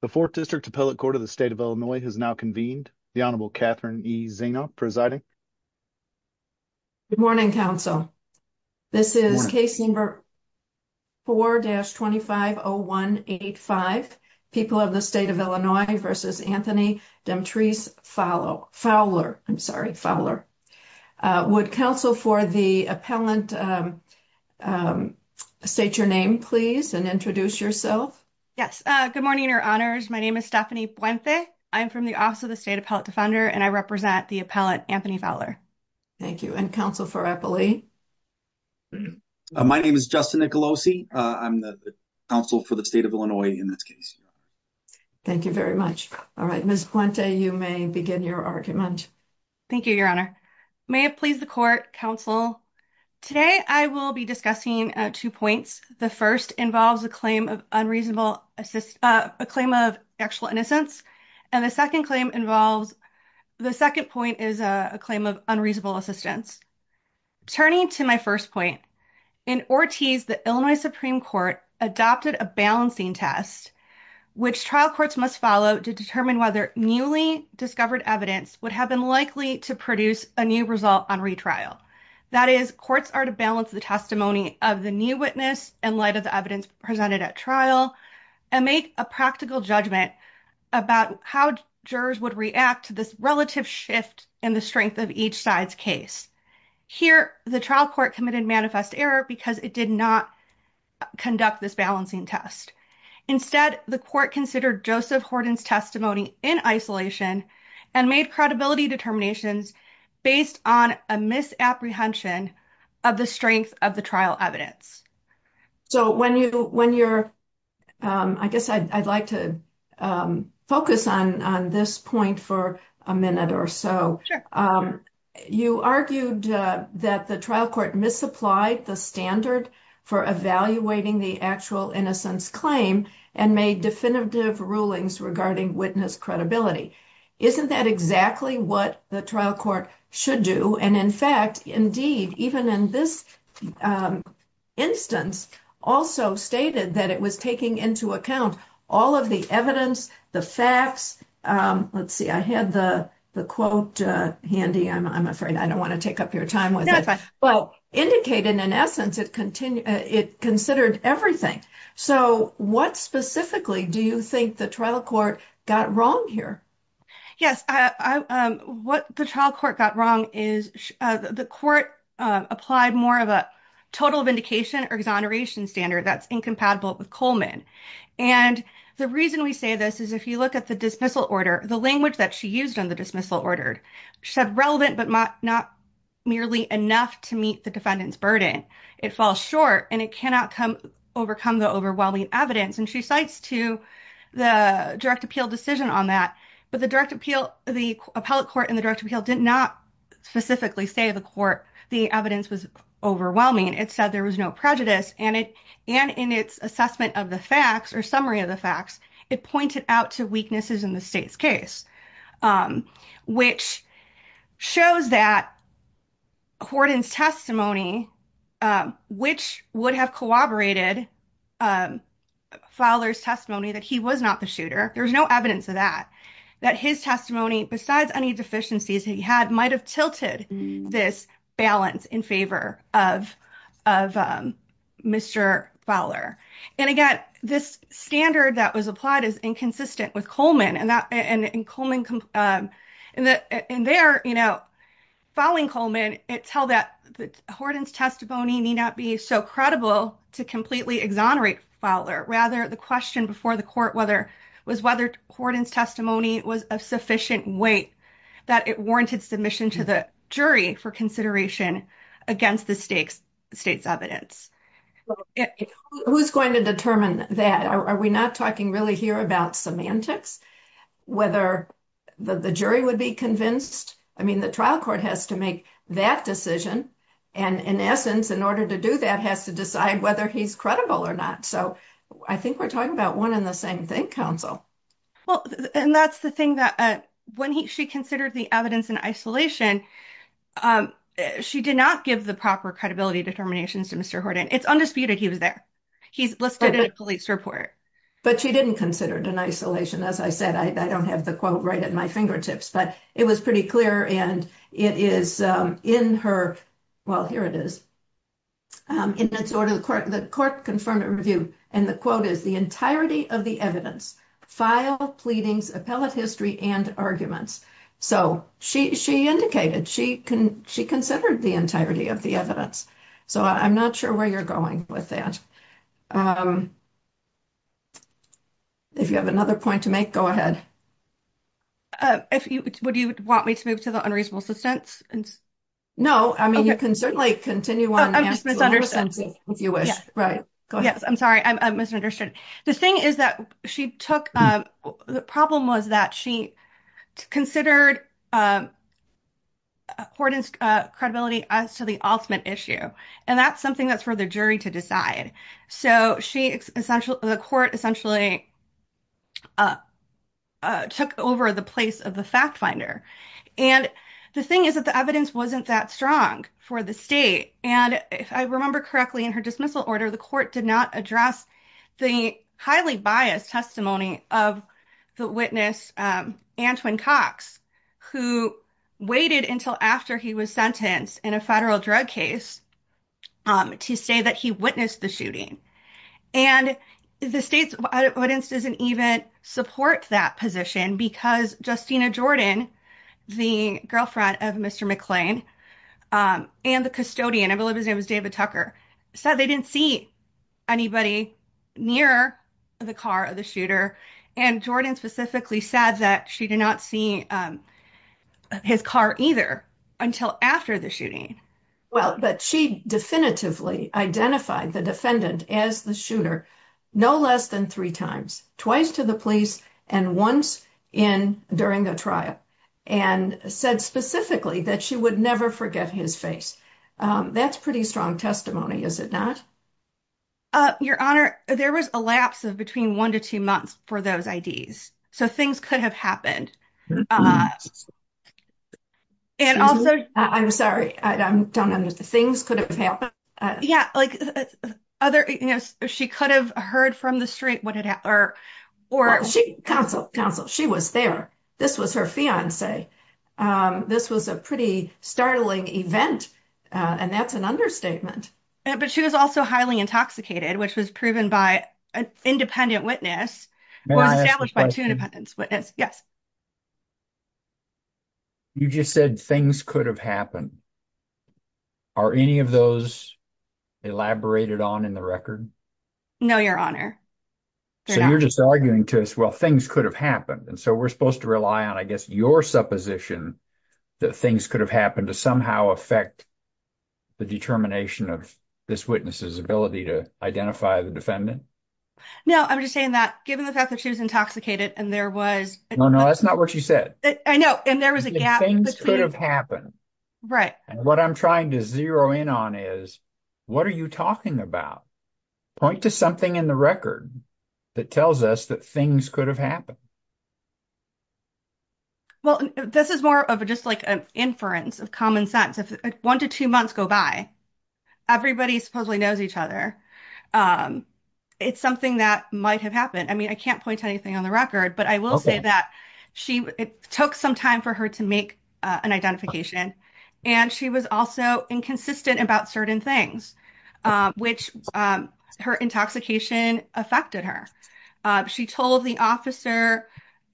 The 4th District Appellate Court of the State of Illinois has now convened. The Honorable Catherine E. Zina presiding. Good morning, counsel. This is case number 4-250185, people of the State of Illinois v. Anthony Demetres Fowler. Would counsel for the appellant state your name, please, and introduce yourself. Yes. Good morning, Your Honors. My name is Stephanie Puente. I'm from the Office of the State Appellate Defender, and I represent the appellant Anthony Fowler. Thank you. And counsel for appellate? My name is Justin Nicolosi. I'm the counsel for the State of Illinois in this case. Thank you very much. All right, Ms. Puente, you may begin your argument. Thank you, Your Honor. May it please the court, counsel. Today, I will be discussing two points. The first involves a claim of unreasonable assist, a claim of actual innocence, and the second claim involves, the second point is a claim of unreasonable assistance. Turning to my first point, in Ortiz, the Illinois Supreme Court adopted a balancing test, which trial courts must follow to determine whether newly discovered evidence would have been likely to produce a new result on retrial. That is, courts are to balance the testimony of the new witness in light of the evidence presented at trial and make a practical judgment about how jurors would react to this relative shift in the strength of each side's case. Here, the trial court committed manifest error because it did not conduct this balancing test. Instead, the court considered Joseph Horton's testimony in isolation and made credibility determinations based on a misapprehension of the strength of the trial evidence. So, when you're, I guess I'd like to focus on this point for a minute or so, you argued that the trial court misapplied the standard for evaluating the actual innocence claim and made definitive rulings regarding witness credibility. Isn't that exactly what the trial court should do? And in fact, indeed, even in this instance, also stated that it was taking into account all of the evidence, the facts. Let's see, I had the quote handy. I'm afraid I don't want to take up your time with it. Well, indicated in essence, it considered everything. So, what specifically do you think the trial court got wrong here? Yes, what the trial court got wrong is the court applied more of a total vindication or exoneration standard that's incompatible with Coleman. And the reason we say this is if you look at the dismissal order, the language that she used on the dismissal ordered said relevant, but not merely enough to meet the defendant's burden. It falls short and it cannot overcome the overwhelming evidence, and she cites to the direct appeal decision on that. But the direct appeal, the appellate court and the direct appeal did not specifically say the court, the evidence was overwhelming. It said there was no prejudice and it and in its assessment of the facts or summary of the facts, it pointed out to weaknesses in the state's case, which shows that. According testimony, which would have corroborated. Fowler's testimony that he was not the shooter. There's no evidence of that, that his testimony, besides any deficiencies he had might have tilted this balance in favor of of Mr Fowler. And again, this standard that was applied is inconsistent with Coleman and that and Coleman and there, you know, following Coleman, it tell that the Horton's testimony may not be so credible to completely exonerate Fowler rather the question before the court, whether was whether Horton's testimony was a sufficient weight that it warranted submission to the jury for consideration against the state's evidence. Who's going to determine that? Are we not talking really here about semantics? Whether the jury would be convinced? I mean, the trial court has to make that decision and in essence, in order to do that has to decide whether he's credible or not. So I think we're talking about 1 and the same thing council. Well, and that's the thing that when he she considered the evidence in isolation, she did not give the proper credibility determinations to Mr Horton. It's undisputed. He was there. He's listed in a police report, but she didn't consider it an isolation. As I said, I don't have the quote right at my fingertips, but it was pretty clear and it is in her. Well, here it is in its order, the court, the court confirmed it review and the quote is the entirety of the evidence file pleadings, appellate history and arguments. So she, she indicated she can she considered the entirety of the evidence. So I'm not sure where you're going with that. If you have another point to make, go ahead. If you would, you would want me to move to the unreasonable assistance and. No, I mean, you can certainly continue on if you wish, right? Yes, I'm sorry. I'm misunderstood. The thing is that she took the problem was that she considered. Accordance credibility as to the ultimate issue, and that's something that's for the jury to decide. So she essentially the court essentially. Took over the place of the fact finder and the thing is that the evidence wasn't that strong for the state. And if I remember correctly, in her dismissal order, the court did not address the highly biased testimony of the witness, Antoine Cox, who waited until after he was sentenced in a federal drug case. To say that he witnessed the shooting and the state's evidence doesn't even support that position because Justina Jordan, the girlfriend of Mr. McClain and the custodian, I believe his name is David Tucker said they didn't see anybody near the car of the shooter and Jordan specifically said that she did not see his car either until after the shooting. Well, but she definitively identified the defendant as the shooter no less than 3 times twice to the police and once in during the trial and said specifically that she would never forget his face. That's pretty strong testimony. Is it not? Your honor, there was a lapse of between 1 to 2 months for those ideas. So things could have happened. And also, I'm sorry, I don't under the things could have happened. Yeah, like, other she could have heard from the street. What it or or she counsel counsel. She was there. This was her fiancee. This was a pretty startling event. And that's an understatement, but she was also highly intoxicated, which was proven by an independent witness by 2 independence witness. Yes. You just said things could have happened. Are any of those elaborated on in the record? No, your honor, you're just arguing to us. Well, things could have happened. And so we're supposed to rely on, I guess, your supposition. That things could have happened to somehow affect. The determination of this witnesses ability to identify the defendant. No, I'm just saying that given the fact that she was intoxicated and there was no, no, that's not what she said. I know. And there was a gap between have happened. Right. And what I'm trying to zero in on is what are you talking about? Point to something in the record that tells us that things could have happened. Well, this is more of a, just like an inference of common sense. If 1 to 2 months go by. Everybody supposedly knows each other. It's something that might have happened. I mean, I can't point to anything on the record, but I will say that she took some time for her to make an identification and she was also inconsistent about certain things, which her intoxication affected her. She told the officer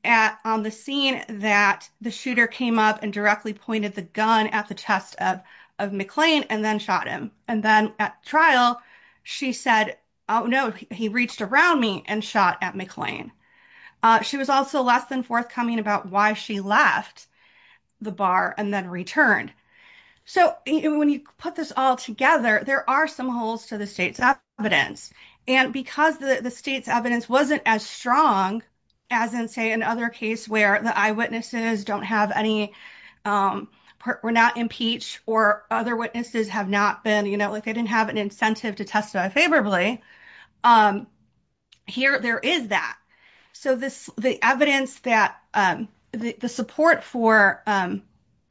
at on the scene that the shooter came up and directly pointed the gun at the test of McLean and then shot him. And then at trial. She said, oh, no, he reached around me and shot at McLean. She was also less than forthcoming about why she left the bar and then returned. So, when you put this all together, there are some holes to the state's evidence and because the state's evidence wasn't as strong as in, say, another case where the eyewitnesses don't have any. We're not impeach or other witnesses have not been, you know, like, they didn't have an incentive to testify favorably. Here, there is that so this the evidence that the support for of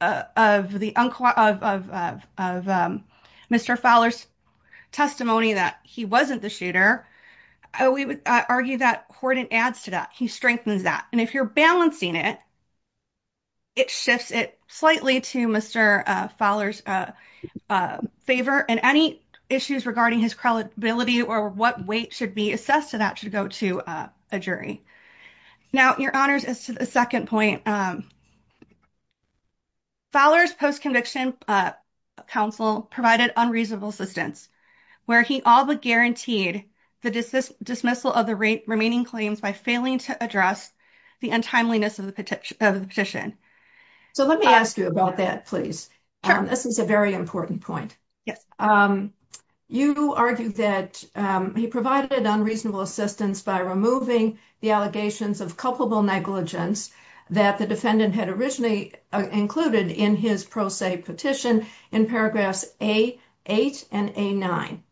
the of Mr. Fowler's testimony that he wasn't the shooter, we would argue that Horton adds to that. He strengthens that. And if you're balancing it. It shifts it slightly to Mr. Fowler's favor and any issues regarding his credibility or what weight should be assessed to that should go to a jury. Now, your honors is to the 2nd point. Fowler's post conviction counsel provided unreasonable assistance where he all but guaranteed the dismissal of the remaining claims by failing to address the untimeliness of the petition of the petition. So, let me ask you about that. Please. This is a very important point. Yes, you argue that he provided unreasonable assistance by removing the allegations of culpable negligence. That the defendant had originally included in his pro se petition in paragraphs, a 8 and a 9.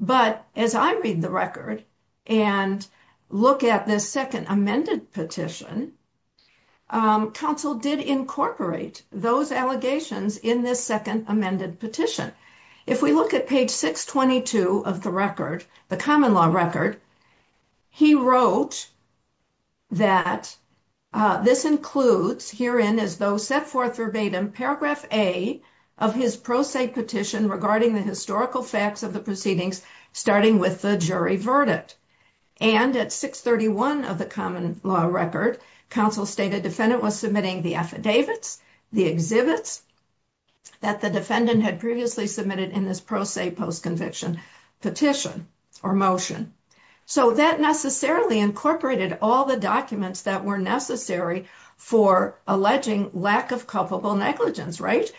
But as I read the record and look at this 2nd, amended petition. Counsel did incorporate those allegations in this 2nd, amended petition. If we look at page 622 of the record, the common law record. He wrote that this includes here in as though set forth verbatim paragraph, a of his pro se petition regarding the historical facts of the proceedings, starting with the jury verdict. And at 631 of the common law record, counsel stated defendant was submitting the affidavits, the exhibits. That the defendant had previously submitted in this pro se post conviction petition or motion. So that necessarily incorporated all the documents that were necessary for alleging lack of culpable negligence, right?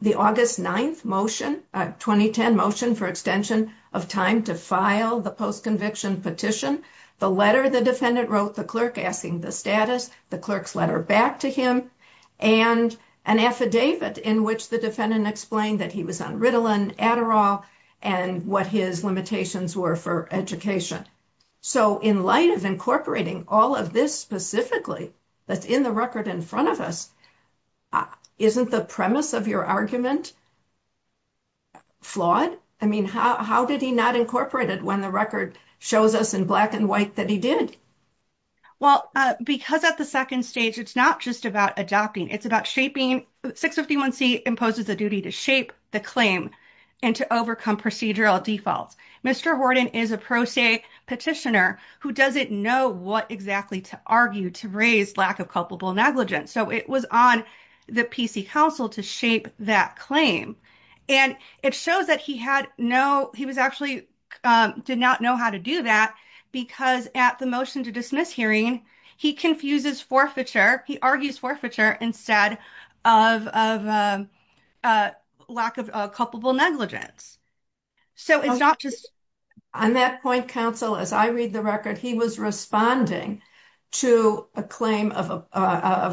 The August 9th motion 2010 motion for extension of time to file the post conviction petition. The letter the defendant wrote the clerk asking the status, the clerk's letter back to him. And an affidavit in which the defendant explained that he was on Ritalin, Adderall and what his limitations were for education. So in light of incorporating all of this specifically that's in the record in front of us. Isn't the premise of your argument? Flawed, I mean, how did he not incorporated when the record shows us in black and white that he did? Well, because at the second stage, it's not just about adopting, it's about shaping 651 C imposes a duty to shape the claim and to overcome procedural defaults. Mr. Horton is a pro se petitioner who doesn't know what exactly to argue to raise lack of culpable negligence. So it was on the PC council to shape that claim and it shows that he had no, he was actually did not know how to do that because at the motion to dismiss hearing, he confuses forfeiture. He argues forfeiture instead of lack of culpable negligence. So, it's not just on that point, counsel, as I read the record, he was responding to a claim of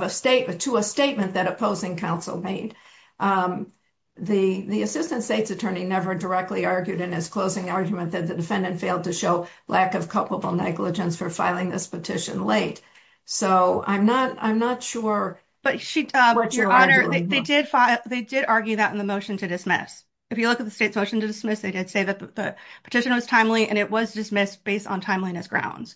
a statement to a statement that opposing counsel made. The assistant state's attorney never directly argued in his closing argument that the defendant failed to show lack of culpable negligence for filing this petition late. So I'm not, I'm not sure. But your honor, they did, they did argue that in the motion to dismiss. If you look at the state's motion to dismiss, they did say that the petition was timely and it was dismissed based on timeliness grounds.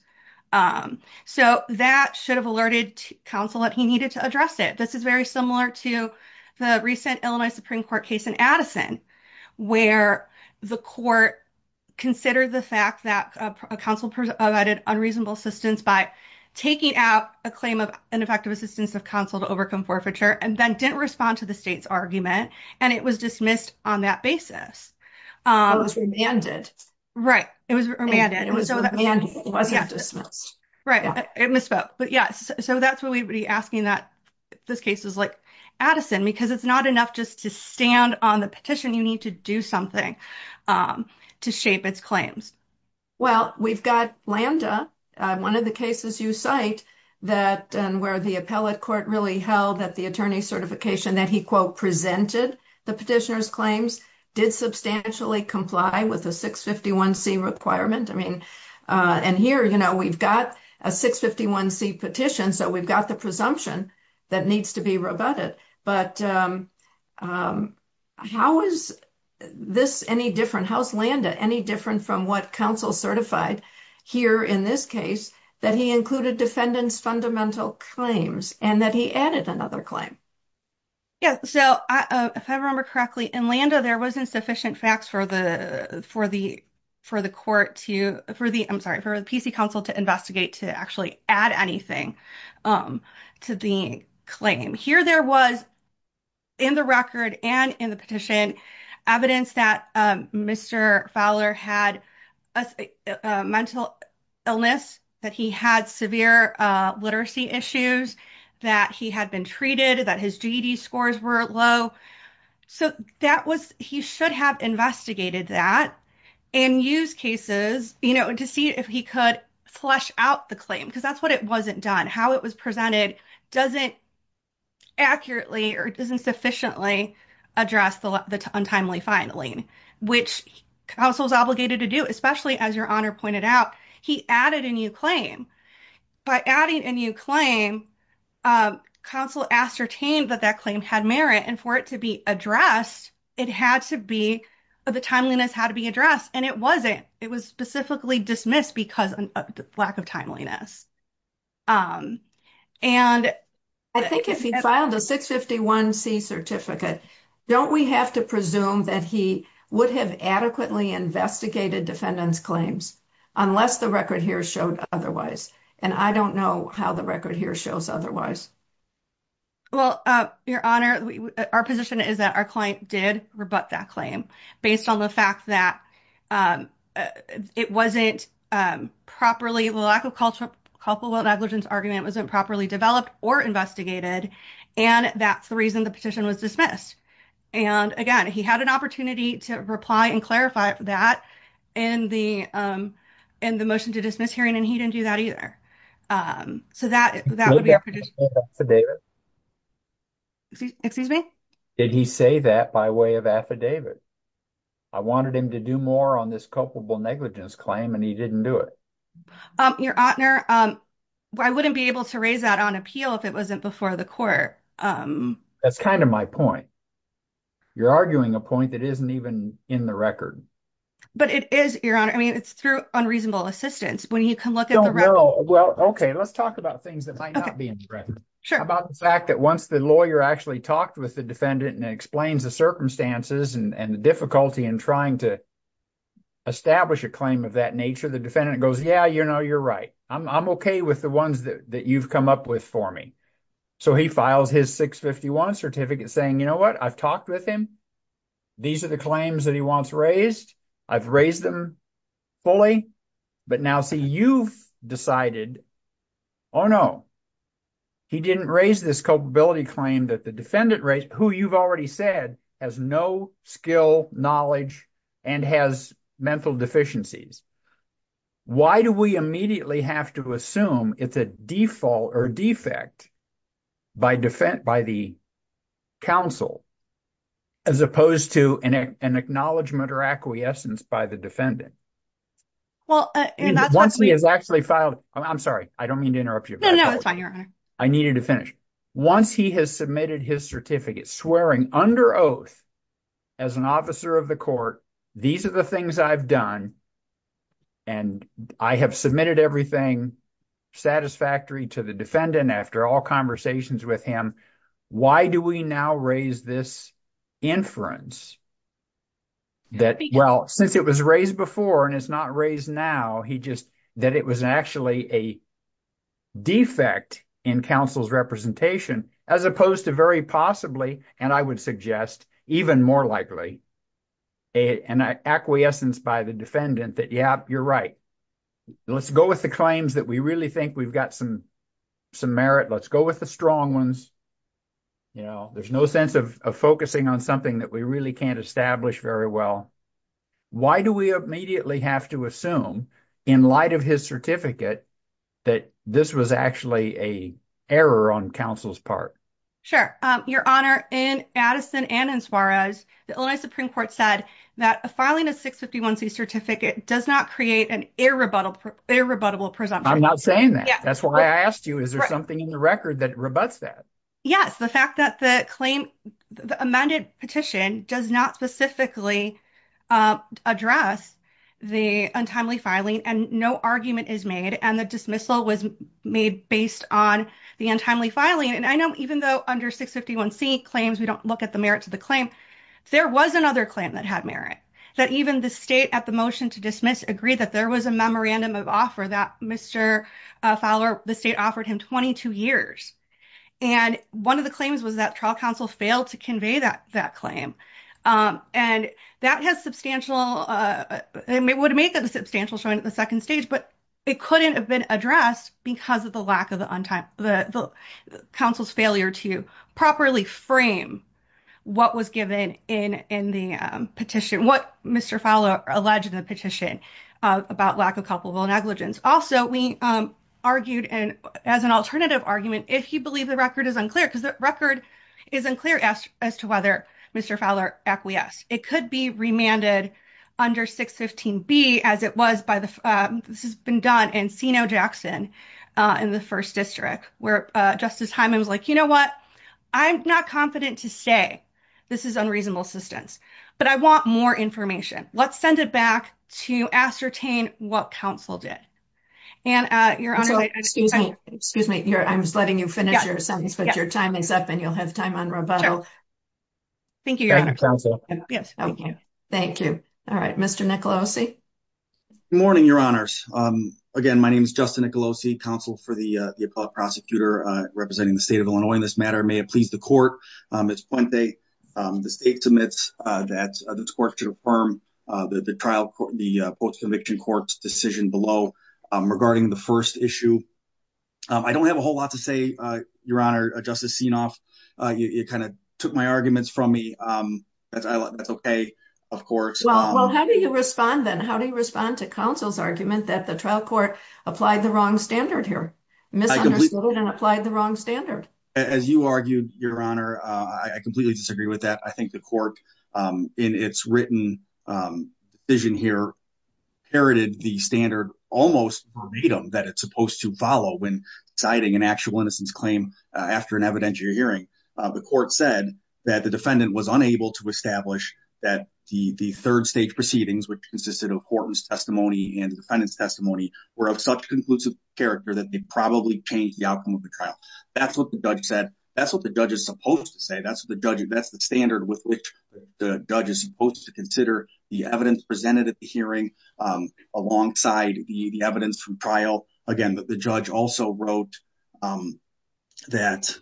So, that should have alerted counsel that he needed to address it. This is very similar to the recent Illinois Supreme Court case in Addison, where the court. Consider the fact that a council provided unreasonable assistance by taking out a claim of ineffective assistance of counsel to overcome forfeiture, and then didn't respond to the state's argument and it was dismissed on that basis. It was remanded. Right. It was remanded. It wasn't dismissed. Right. It misspoke. But, yes, so that's what we would be asking that this case is like Addison, because it's not enough just to stand on the petition. You need to do something. To shape its claims. Well, we've got land up 1 of the cases you cite that and where the appellate court really held that the attorney certification that he quote presented the petitioners claims did substantially comply with a 651 C requirement. I mean, and here, you know, we've got a 651 C petition. So we've got the presumption. That needs to be rebutted, but. How is this any different? How's land any different from what council certified here in this case that he included defendants fundamental claims and that he added another claim. Yeah, so if I remember correctly, and Landa, there wasn't sufficient facts for the for the. For the court to for the I'm sorry for the PC council to investigate to actually add anything to the claim here. There was. In the record and in the petition evidence that Mr Fowler had a mental illness that he had severe literacy issues that he had been treated that his scores were low. So that was he should have investigated that and use cases to see if he could flush out the claim because that's what it wasn't done. How it was presented doesn't. Accurately, or doesn't sufficiently address the untimely filing, which also is obligated to do, especially as your honor pointed out, he added a new claim by adding a new claim. Counsel ascertained that that claim had merit and for it to be addressed. It had to be the timeliness how to be addressed and it wasn't it was specifically dismissed because lack of timeliness. And I think if he filed a 651 C certificate, don't we have to presume that he would have adequately investigated defendants claims unless the record here showed otherwise? And I don't know how the record here shows otherwise. Well, your honor, our position is that our client did rebut that claim based on the fact that. It wasn't properly lack of culture couple negligence argument wasn't properly developed or investigated and that's the reason the petition was dismissed. And again, he had an opportunity to reply and clarify that in the, in the motion to dismiss hearing and he didn't do that either. So, that that would be. Excuse me, did he say that by way of affidavit? I wanted him to do more on this culpable negligence claim and he didn't do it. Your honor, I wouldn't be able to raise that on appeal if it wasn't before the court. That's kind of my point. You're arguing a point that isn't even in the record. But it is your honor. I mean, it's through unreasonable assistance when you can look at the. Well, okay, let's talk about things that might not be sure about the fact that once the lawyer actually talked with the defendant and explains the circumstances and the difficulty and trying to. Establish a claim of that nature. The defendant goes. Yeah, you know, you're right. I'm okay with the ones that you've come up with for me. So, he files his 651 certificate saying, you know what I've talked with him. These are the claims that he wants raised. I've raised them fully. But now, see, you've decided. Oh, no, he didn't raise this culpability claim that the defendant who you've already said has no skill, knowledge and has mental deficiencies. Why do we immediately have to assume it's a default or defect by the counsel? As opposed to an acknowledgement or acquiescence by the defendant. Well, once he has actually filed, I'm sorry, I don't mean to interrupt you. No, no, that's fine. I needed to finish once he has submitted his certificate swearing under oath. As an officer of the court, these are the things I've done. And I have submitted everything satisfactory to the defendant after all conversations with him. Why do we now raise this inference? That, well, since it was raised before and it's not raised now, that it was actually a defect in counsel's representation, as opposed to very possibly, and I would suggest even more likely, an acquiescence by the defendant that, yeah, you're right. Let's go with the claims that we really think we've got some merit. Let's go with the strong ones. You know, there's no sense of focusing on something that we really can't establish very well. Why do we immediately have to assume, in light of his certificate, that this was actually a error on counsel's part? Sure. Your Honor, in Addison and in Suarez, the Illinois Supreme Court said that filing a 651c certificate does not create an irrebuttable presumption. I'm not saying that. That's why I asked you. Is there something in the record that rebutts that? Yes. The fact that the claim, the amended petition, does not specifically address the untimely filing and no argument is made and the dismissal was made based on the untimely filing. And I know even though under 651c claims, we don't look at the merit to the claim, there was another claim that had merit. That even the state at the motion to dismiss agreed that there was a memorandum of offer that Mr. Fowler, the state offered him 22 years. And one of the claims was that trial counsel failed to convey that claim. And that has substantial, it would make that a substantial showing at the second stage, but it couldn't have been addressed because of the lack of the counsel's failure to properly frame what was given in the petition, what Mr. Fowler alleged in the petition about lack of culpable negligence. Also, we argued as an alternative argument, if you believe the record is unclear, because the record is unclear as to whether Mr. Fowler acquiesced. It could be remanded under 615b as it was by the, this has been done in Seno Jackson in the first district, where Justice Hyman was like, you know what, I'm not confident to say this is unreasonable assistance, but I want more information. Let's send it back to ascertain what counsel did. And your honor, excuse me, excuse me, I'm just letting you finish your sentence, but your time is up and you'll have time on rebuttal. Thank you. Thank you. All right, Mr. Nicolosi. Good morning, your honors. Again, my name is Justin Nicolosi, counsel for the appellate prosecutor representing the state of Illinois in this matter. May it please the court, Ms. Puente, the state submits that this court should affirm the trial, the post-conviction court's decision below regarding the first issue. I don't have a whole lot to say, your honor, Justice Sienoff. You kind of took my arguments from me. That's okay, of course. Well, how do you respond then? How do you respond to counsel's argument that the trial court applied the wrong standard here? Misunderstood and applied the wrong standard. As you argued, your honor, I completely disagree with that. I think the court in its written vision here heralded the standard almost verbatim that it's supposed to follow when citing an actual innocence claim after an evidentiary hearing. The court said that the defendant was unable to establish that the third stage proceedings, which consisted of courtroom's testimony and the defendant's testimony, were of such conclusive character that they probably changed the outcome of the trial. That's what the judge said. That's what the judge is supposed to say. That's the standard with which the judge is supposed to consider the evidence presented at the hearing alongside the evidence from trial. Again, the judge also wrote that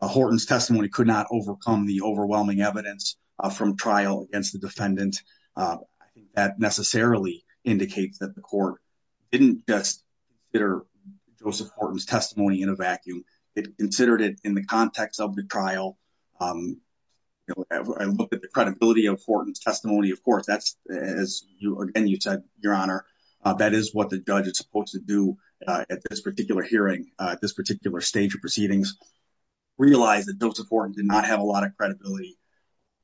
Horton's testimony could not overcome the overwhelming evidence from trial against the defendant. That necessarily indicates that the court didn't just consider Joseph Horton's testimony in a vacuum. They considered it in the context of the trial. I looked at the credibility of Horton's testimony. Of course, as you said, your honor, that is what the judge is supposed to do at this particular hearing, at this particular stage of proceedings. Realize that Joseph Horton did not have a lot of credibility.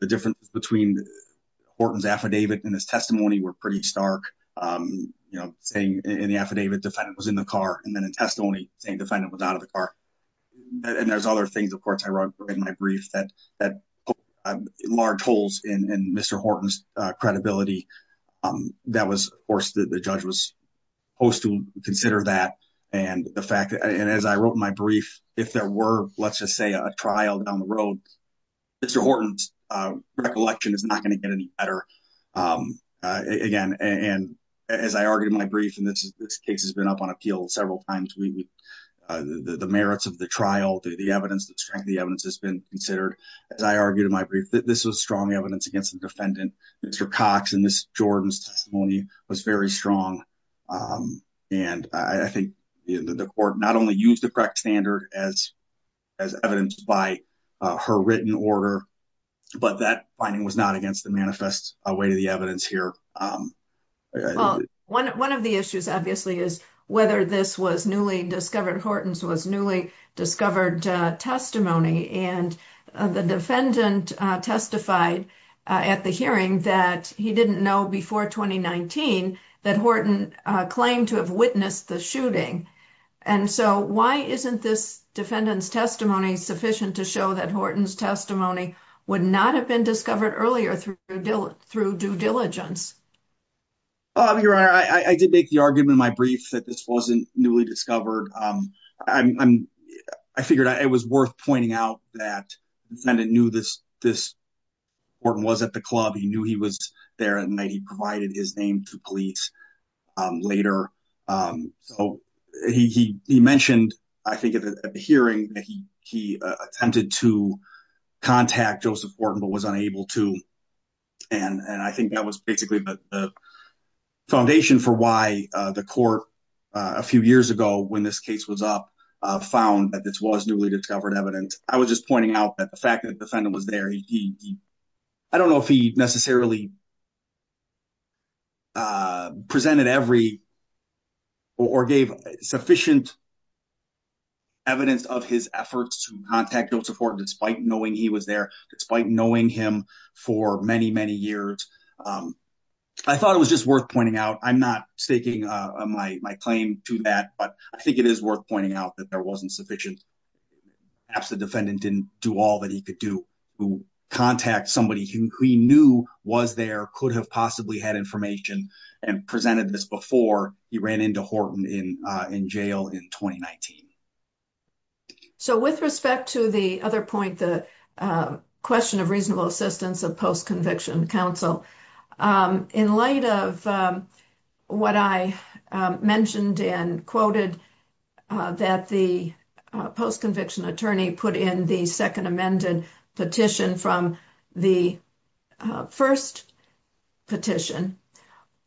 The differences between Horton's affidavit and his testimony were pretty stark. Saying in the affidavit, defendant was in the car, and then in testimony, saying defendant was out of the car. There's other things, of course, I wrote in my brief that large holes in Mr. Horton's credibility. Of course, the judge was supposed to consider that. As I wrote my brief, if there were, let's just say, a trial down the road, Mr. Horton's recollection is not going to get any better. As I argued in my brief, and this case has been up on appeal several times, the merits of the trial, the evidence, the strength of the evidence has been considered. As I argued in my brief, this was strong evidence against the defendant. Mr. Cox and Ms. Jordan's testimony was very strong. I think the court not only used the correct standard as evidenced by her written order, but that finding was not against the manifest weight of the evidence here. Well, one of the issues, obviously, is whether this was newly discovered. Horton's was newly discovered testimony, and the defendant testified at the hearing that he didn't know before 2019 that Horton claimed to have witnessed the shooting. And so why isn't this defendant's testimony sufficient to show that Horton's testimony would not have been discovered earlier through due diligence? Well, Your Honor, I did make the argument in my brief that this wasn't newly discovered. I figured it was worth pointing out that the defendant knew Horton was at the club. He knew he was there at night. He provided his name to police later. So he mentioned, I think, at the hearing that he attempted to contact Joseph Horton, but was unable to. And I think that was basically the foundation for why the court, a few years ago when this case was up, found that this was newly discovered evidence. I was just pointing out that the fact that the defendant was there, I don't know if he necessarily presented every or gave sufficient evidence of his efforts to contact Joseph Horton despite knowing he was there, despite knowing him for many, many years. I thought it was just worth pointing out. I'm not staking my claim to that, but I think it is worth pointing out that there wasn't sufficient. Perhaps the defendant didn't do all that he could do to contact somebody who he knew was there, could have possibly had information, and presented this before he ran into Horton in jail in 2019. So with respect to the other point, the question of reasonable assistance of post-conviction counsel, in light of what I mentioned and quoted that the post-conviction attorney put in the second amended petition from the first petition,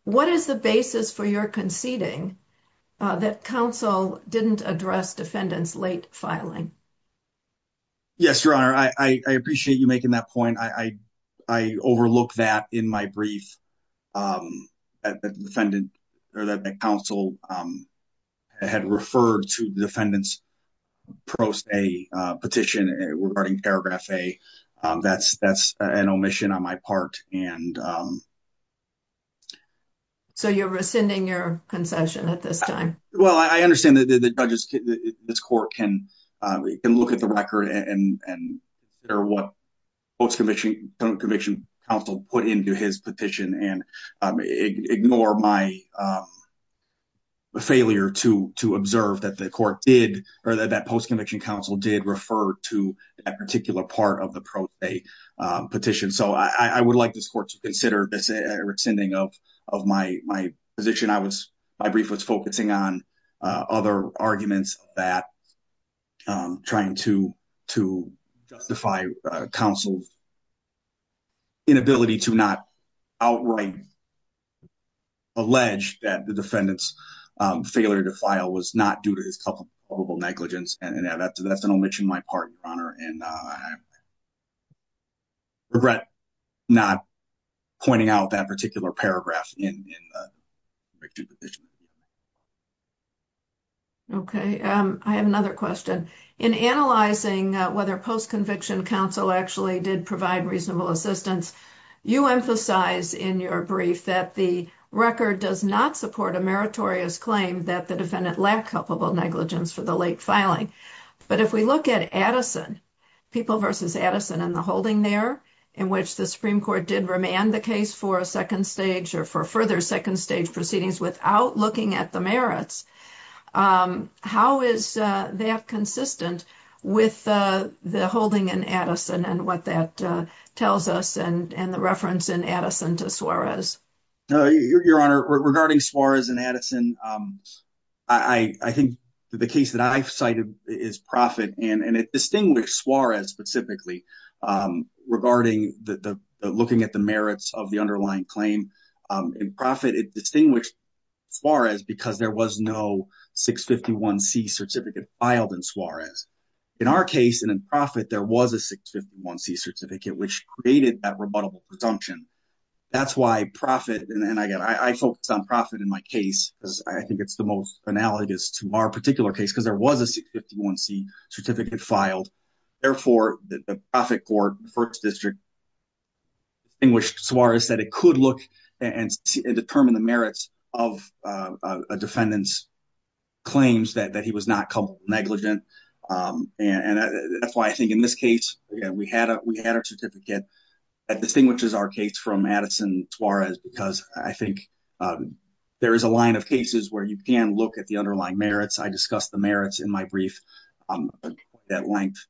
what is the basis for your conceding that counsel didn't address defendant's late filing? Yes, your honor, I appreciate you making that point. I overlooked that in my brief that the defendant or that the counsel had referred to the defendant's post-A petition regarding paragraph A. That's an omission on my part and um So you're rescinding your concession at this time? Well, I understand that the judges this court can can look at the record and and consider what post-conviction counsel put into his petition and ignore my failure to to observe that the court did or that post-conviction counsel did refer to a particular part of the post-A petition. So I would like this court to consider this rescinding of my position. My brief was focusing on other arguments that I'm trying to justify counsel's inability to not outright allege that the defendant's failure to file was not due to his probable negligence and that's an omission on my part, your honor, and regret not pointing out that particular paragraph in the petition. Okay, I have another question. In analyzing whether post-conviction counsel actually did provide reasonable assistance, you emphasize in your brief that the record does not support a meritorious claim that the defendant lacked culpable negligence for the late filing. But if we look at Addison, People v. Addison and the holding there in which the Supreme Court did remand the case for a second stage or for further second stage proceedings without looking at the merits, how is that consistent with the holding in Addison and what that tells us and and the reference in Addison to Suarez? Your honor, regarding Suarez and Addison, I think the case that I've cited is Proffitt and it distinguished Suarez specifically regarding the looking at the merits of the underlying claim. In Proffitt, it distinguished Suarez because there was no 651c certificate filed in Suarez. In our case and in Proffitt, there was a 651c certificate which created that rebuttable presumption. That's why Proffitt, and again, I focused on Proffitt in my case because I think it's the most analogous to our particular case because there was a 651c certificate filed. Therefore, the Proffitt court, the first district distinguished Suarez that it could look and determine the merits of a defendant's claims that he was not culpable negligent. And that's why I think in this case, we had a certificate that distinguishes our case from Addison-Suarez because I think there is a line of cases where you can look at the underlying merits. I discussed the merits in my brief at length.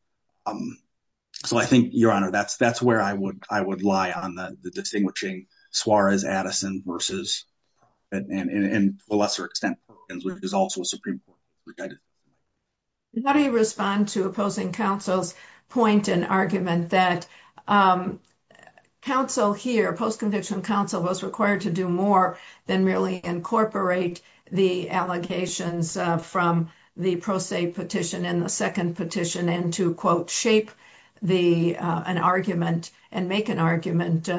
So I think, your honor, that's where I would lie on the distinguishing Suarez-Addison versus and to a lesser extent, which is also a Supreme Court. How do you respond to opposing counsel's point and argument that counsel here, post-conviction counsel, was required to do more than merely incorporate the allegations from the pro se petition and the second petition and to, quote, shape an argument and make an argument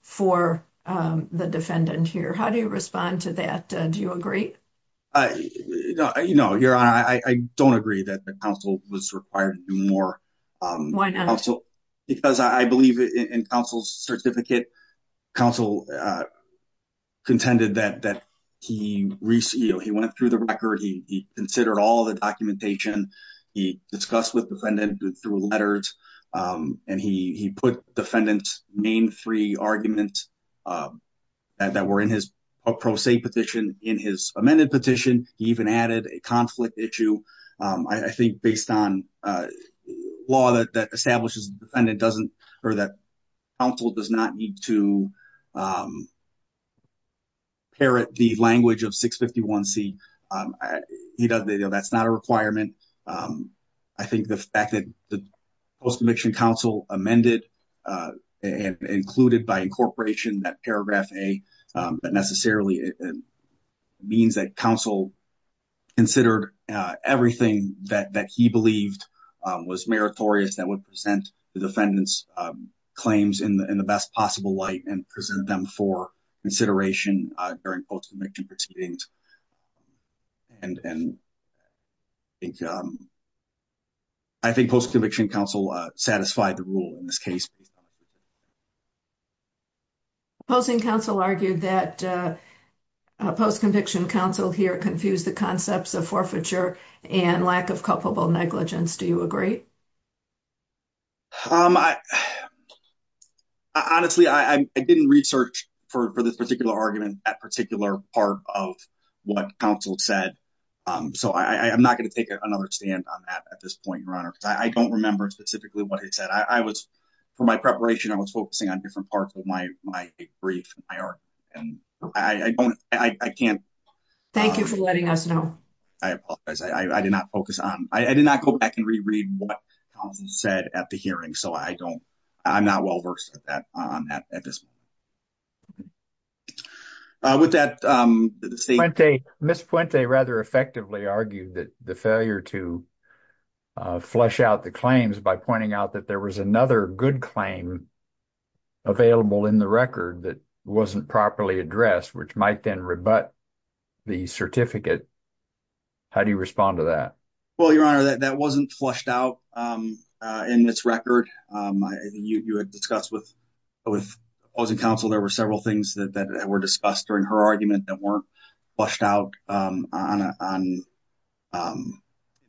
for the defendant here? How do you respond to that? Do you agree? No, your honor, I don't agree that the counsel was required to do more. Why not? Because I believe in counsel's certificate, counsel contended that he went through the record, he considered all the documentation, he discussed with defendant through letters, and he put defendant's main three arguments that were in his pro se petition in his amended petition. He even added a conflict issue. I think based on the law that establishes the defendant doesn't or that counsel does not need to parrot the language of 651c, that's not a requirement. I think the fact that the post-conviction counsel amended and included by incorporation that paragraph A, that necessarily means that counsel considered everything that he believed was meritorious that would present the defendant's claims in the best possible light and present them for consideration during post-conviction proceedings. I think post-conviction counsel satisfied the rule in this case. Post-conviction counsel argued that post-conviction counsel here confused the concepts of forfeiture and lack of culpable negligence. Do you agree? Honestly, I didn't research for this particular argument that particular part of what counsel said. I'm not going to take another stand on that at this point, Your Honor, because I don't remember specifically what he said. For my preparation, I was focusing on different parts of my brief and my argument, and I can't... Thank you for letting us know. I apologize. I did not focus on... I did not go back and re-read what counsel said at the hearing, so I don't... I'm not well-versed at that at this point. With that... Ms. Puente rather effectively argued that the failure to flush out the claims by pointing out that there was another good claim available in the record that wasn't properly addressed, which might then rebut the certificate. How do you respond to that? Well, Your Honor, that wasn't flushed out in this record. I think you had discussed with opposing counsel there were several things that were discussed during her argument that weren't flushed out on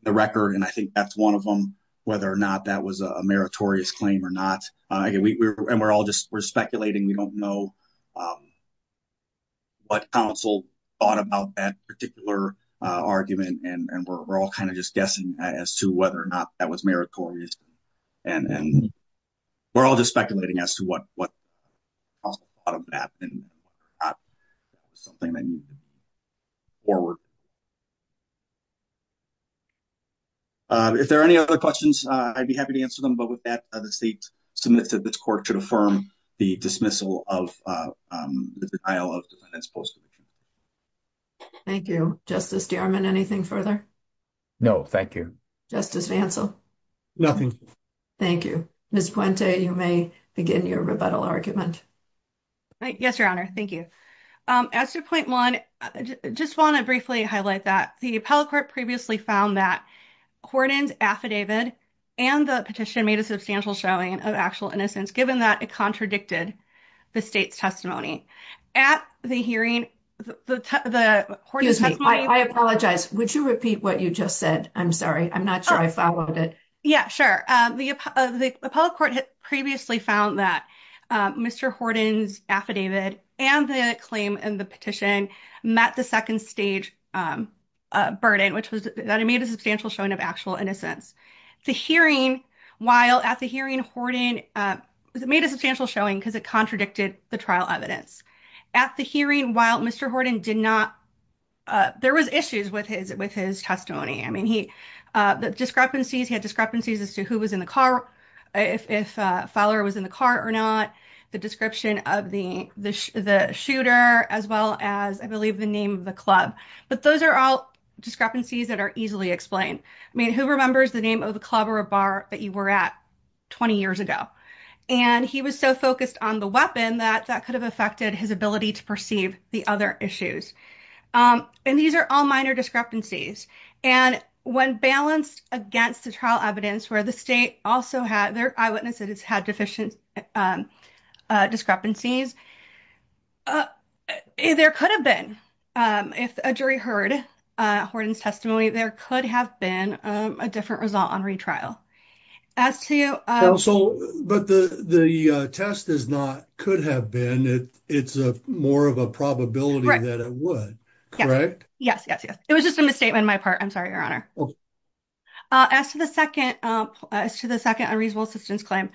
the record, and I think that's one of them, whether or not that was a meritorious claim or not. And we're all just... We're speculating. We don't know what counsel thought about that particular argument, and we're all kind of just guessing as to whether or not that was meritorious. And we're all just speculating as to what counsel thought of that, and something they need to move forward. If there are any other questions, I'd be happy to answer them. But with that, the state submits that this court should affirm the dismissal of the denial of defendant's post. Thank you. Justice Dierman, anything further? No, thank you. Justice Vancel? Nothing. Thank you. Ms. Puente, you may begin your rebuttal argument. Yes, Your Honor. Thank you. As to point one, I just want to briefly highlight that the appellate court previously found that Horton's affidavit and the petition made a substantial showing of actual innocence, given that it contradicted the state's testimony. At the hearing, the Horton's testimony... Excuse me. I apologize. Would you repeat what you just said? I'm sorry. I'm not sure I followed it. Yeah, sure. The appellate court had previously found that Mr. Horton's affidavit and the claim in the petition met the second stage burden, which was that it made a substantial showing of actual innocence. The hearing, while at the hearing, Horton made a substantial showing because it contradicted the trial evidence. At the hearing, while Mr. Horton did not... There was issues with his testimony. I mean, he... The discrepancies, he had discrepancies as to who was in the car, if a follower was in the car or not, the description of the shooter, as well as, I believe, the name of the club. But those are all discrepancies that are easily explained. I mean, who remembers the name of the club or a bar that you were at 20 years ago? And he was so focused on the weapon that that could have affected his ability to perceive the other issues. And these are all minor discrepancies. And when balanced against the trial evidence, where the state also had... Their eyewitnesses had deficient discrepancies, there could have been, if a jury heard Horton's testimony, there could have been a different result on retrial. As to... But the test is not could have been, it's more of a probability that it would, correct? Yes, yes, yes. It was just a misstatement on my part. I'm sorry, Your Honor. As to the second unreasonable assistance claim,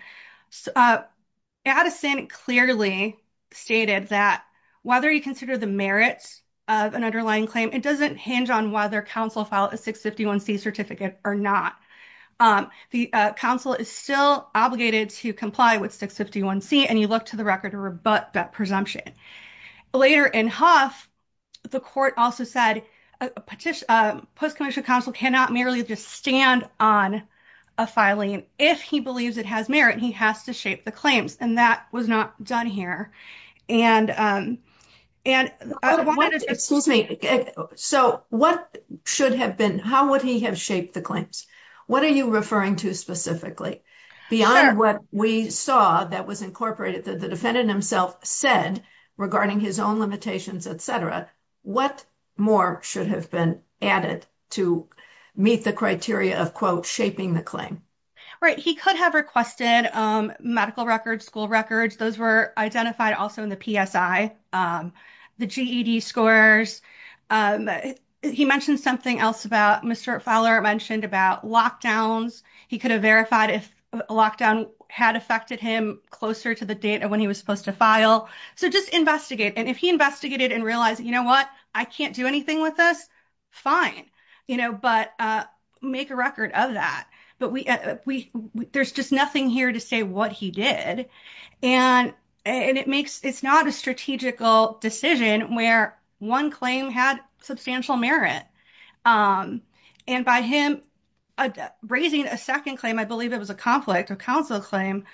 Addison clearly stated that whether you consider the merits of an underlying claim, it doesn't hinge on whether counsel filed a 651c certificate or not. The counsel is still obligated to comply with 651c, and you look to the record to rebut that presumption. Later in Huff, the court also said post-commissioned counsel cannot merely just stand on a filing. If he believes it has merit, he has to shape the claims, and that was not done here. And... Excuse me. So what should have been... How would he have shaped the claims? What are you referring to specifically? Beyond what we saw that was incorporated that the defendant himself said regarding his own limitations, etc. What more should have been added to meet the criteria of, quote, shaping the claim? Right. He could have requested medical records, school records. Those were identified also in the PSI, the GED scores. He mentioned something else about... Mr. Fowler mentioned about lockdowns. He could have verified if a lockdown had affected him closer to the date of when he was supposed to file. So just investigate. And if he investigated and realized, you know what, I can't do anything with this, fine, you know, but make a record of that. But we... There's just nothing here to say what he did. And it makes... It's not a strategical decision where one claim had substantial merit. And by him raising a second claim, I believe it was a conflict, a counsel claim.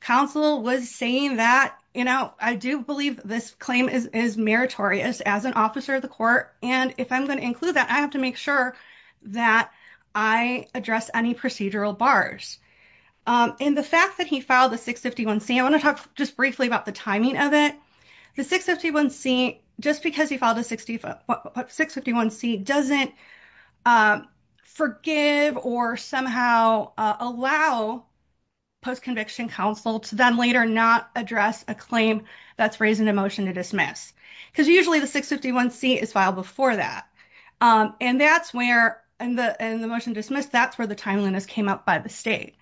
Counsel was saying that, you know, I do believe this claim is meritorious as an officer of the court. And if I'm going to include that, I have to make sure that I address any procedural bars. And the fact that he filed the 651c, I want to talk just briefly about the timing of it. The 651c, just because he filed a 651c doesn't forgive or somehow allow post-conviction counsel to then later not address a claim that's raised in a motion to dismiss. Because usually the 651c is filed before that. And that's where, in the motion dismissed, that's where the timeliness came up by the state.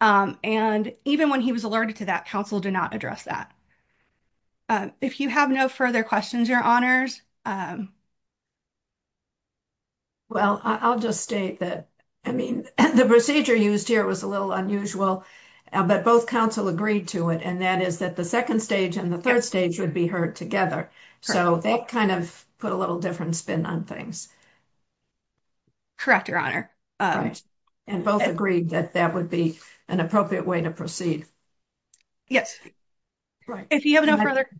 And even when he was alerted to that, counsel did not address that. If you have no further questions, Your Honors... Well, I'll just state that, I mean, the procedure used here was a little unusual, but both counsel agreed to it. And that is that the second stage and the third stage would be heard together. So that kind of put a little different spin on things. Correct, Your Honor. And both agreed that that would be an appropriate way to proceed. Yes. If you have no further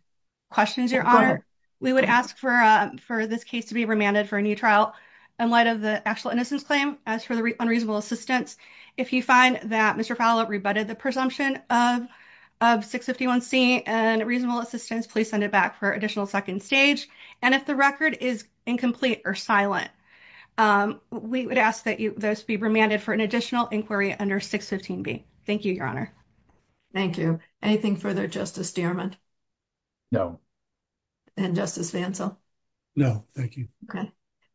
questions, Your Honor, we would ask for a motion to dismiss. For this case to be remanded for a new trial in light of the actual innocence claim. As for the unreasonable assistance, if you find that Mr. Fowler rebutted the presumption of 651c and reasonable assistance, please send it back for additional second stage. And if the record is incomplete or silent, we would ask that those be remanded for an additional inquiry under 615b. Thank you, Your Honor. Thank you. Anything further, Justice Dearmond? No. And Justice Vanzel? No, thank you. Okay.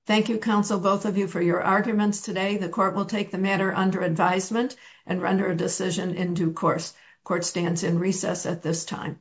Thank you, counsel, both of you for your arguments today. The court will take the matter under advisement and render a decision in due course. Court stands in recess at this time.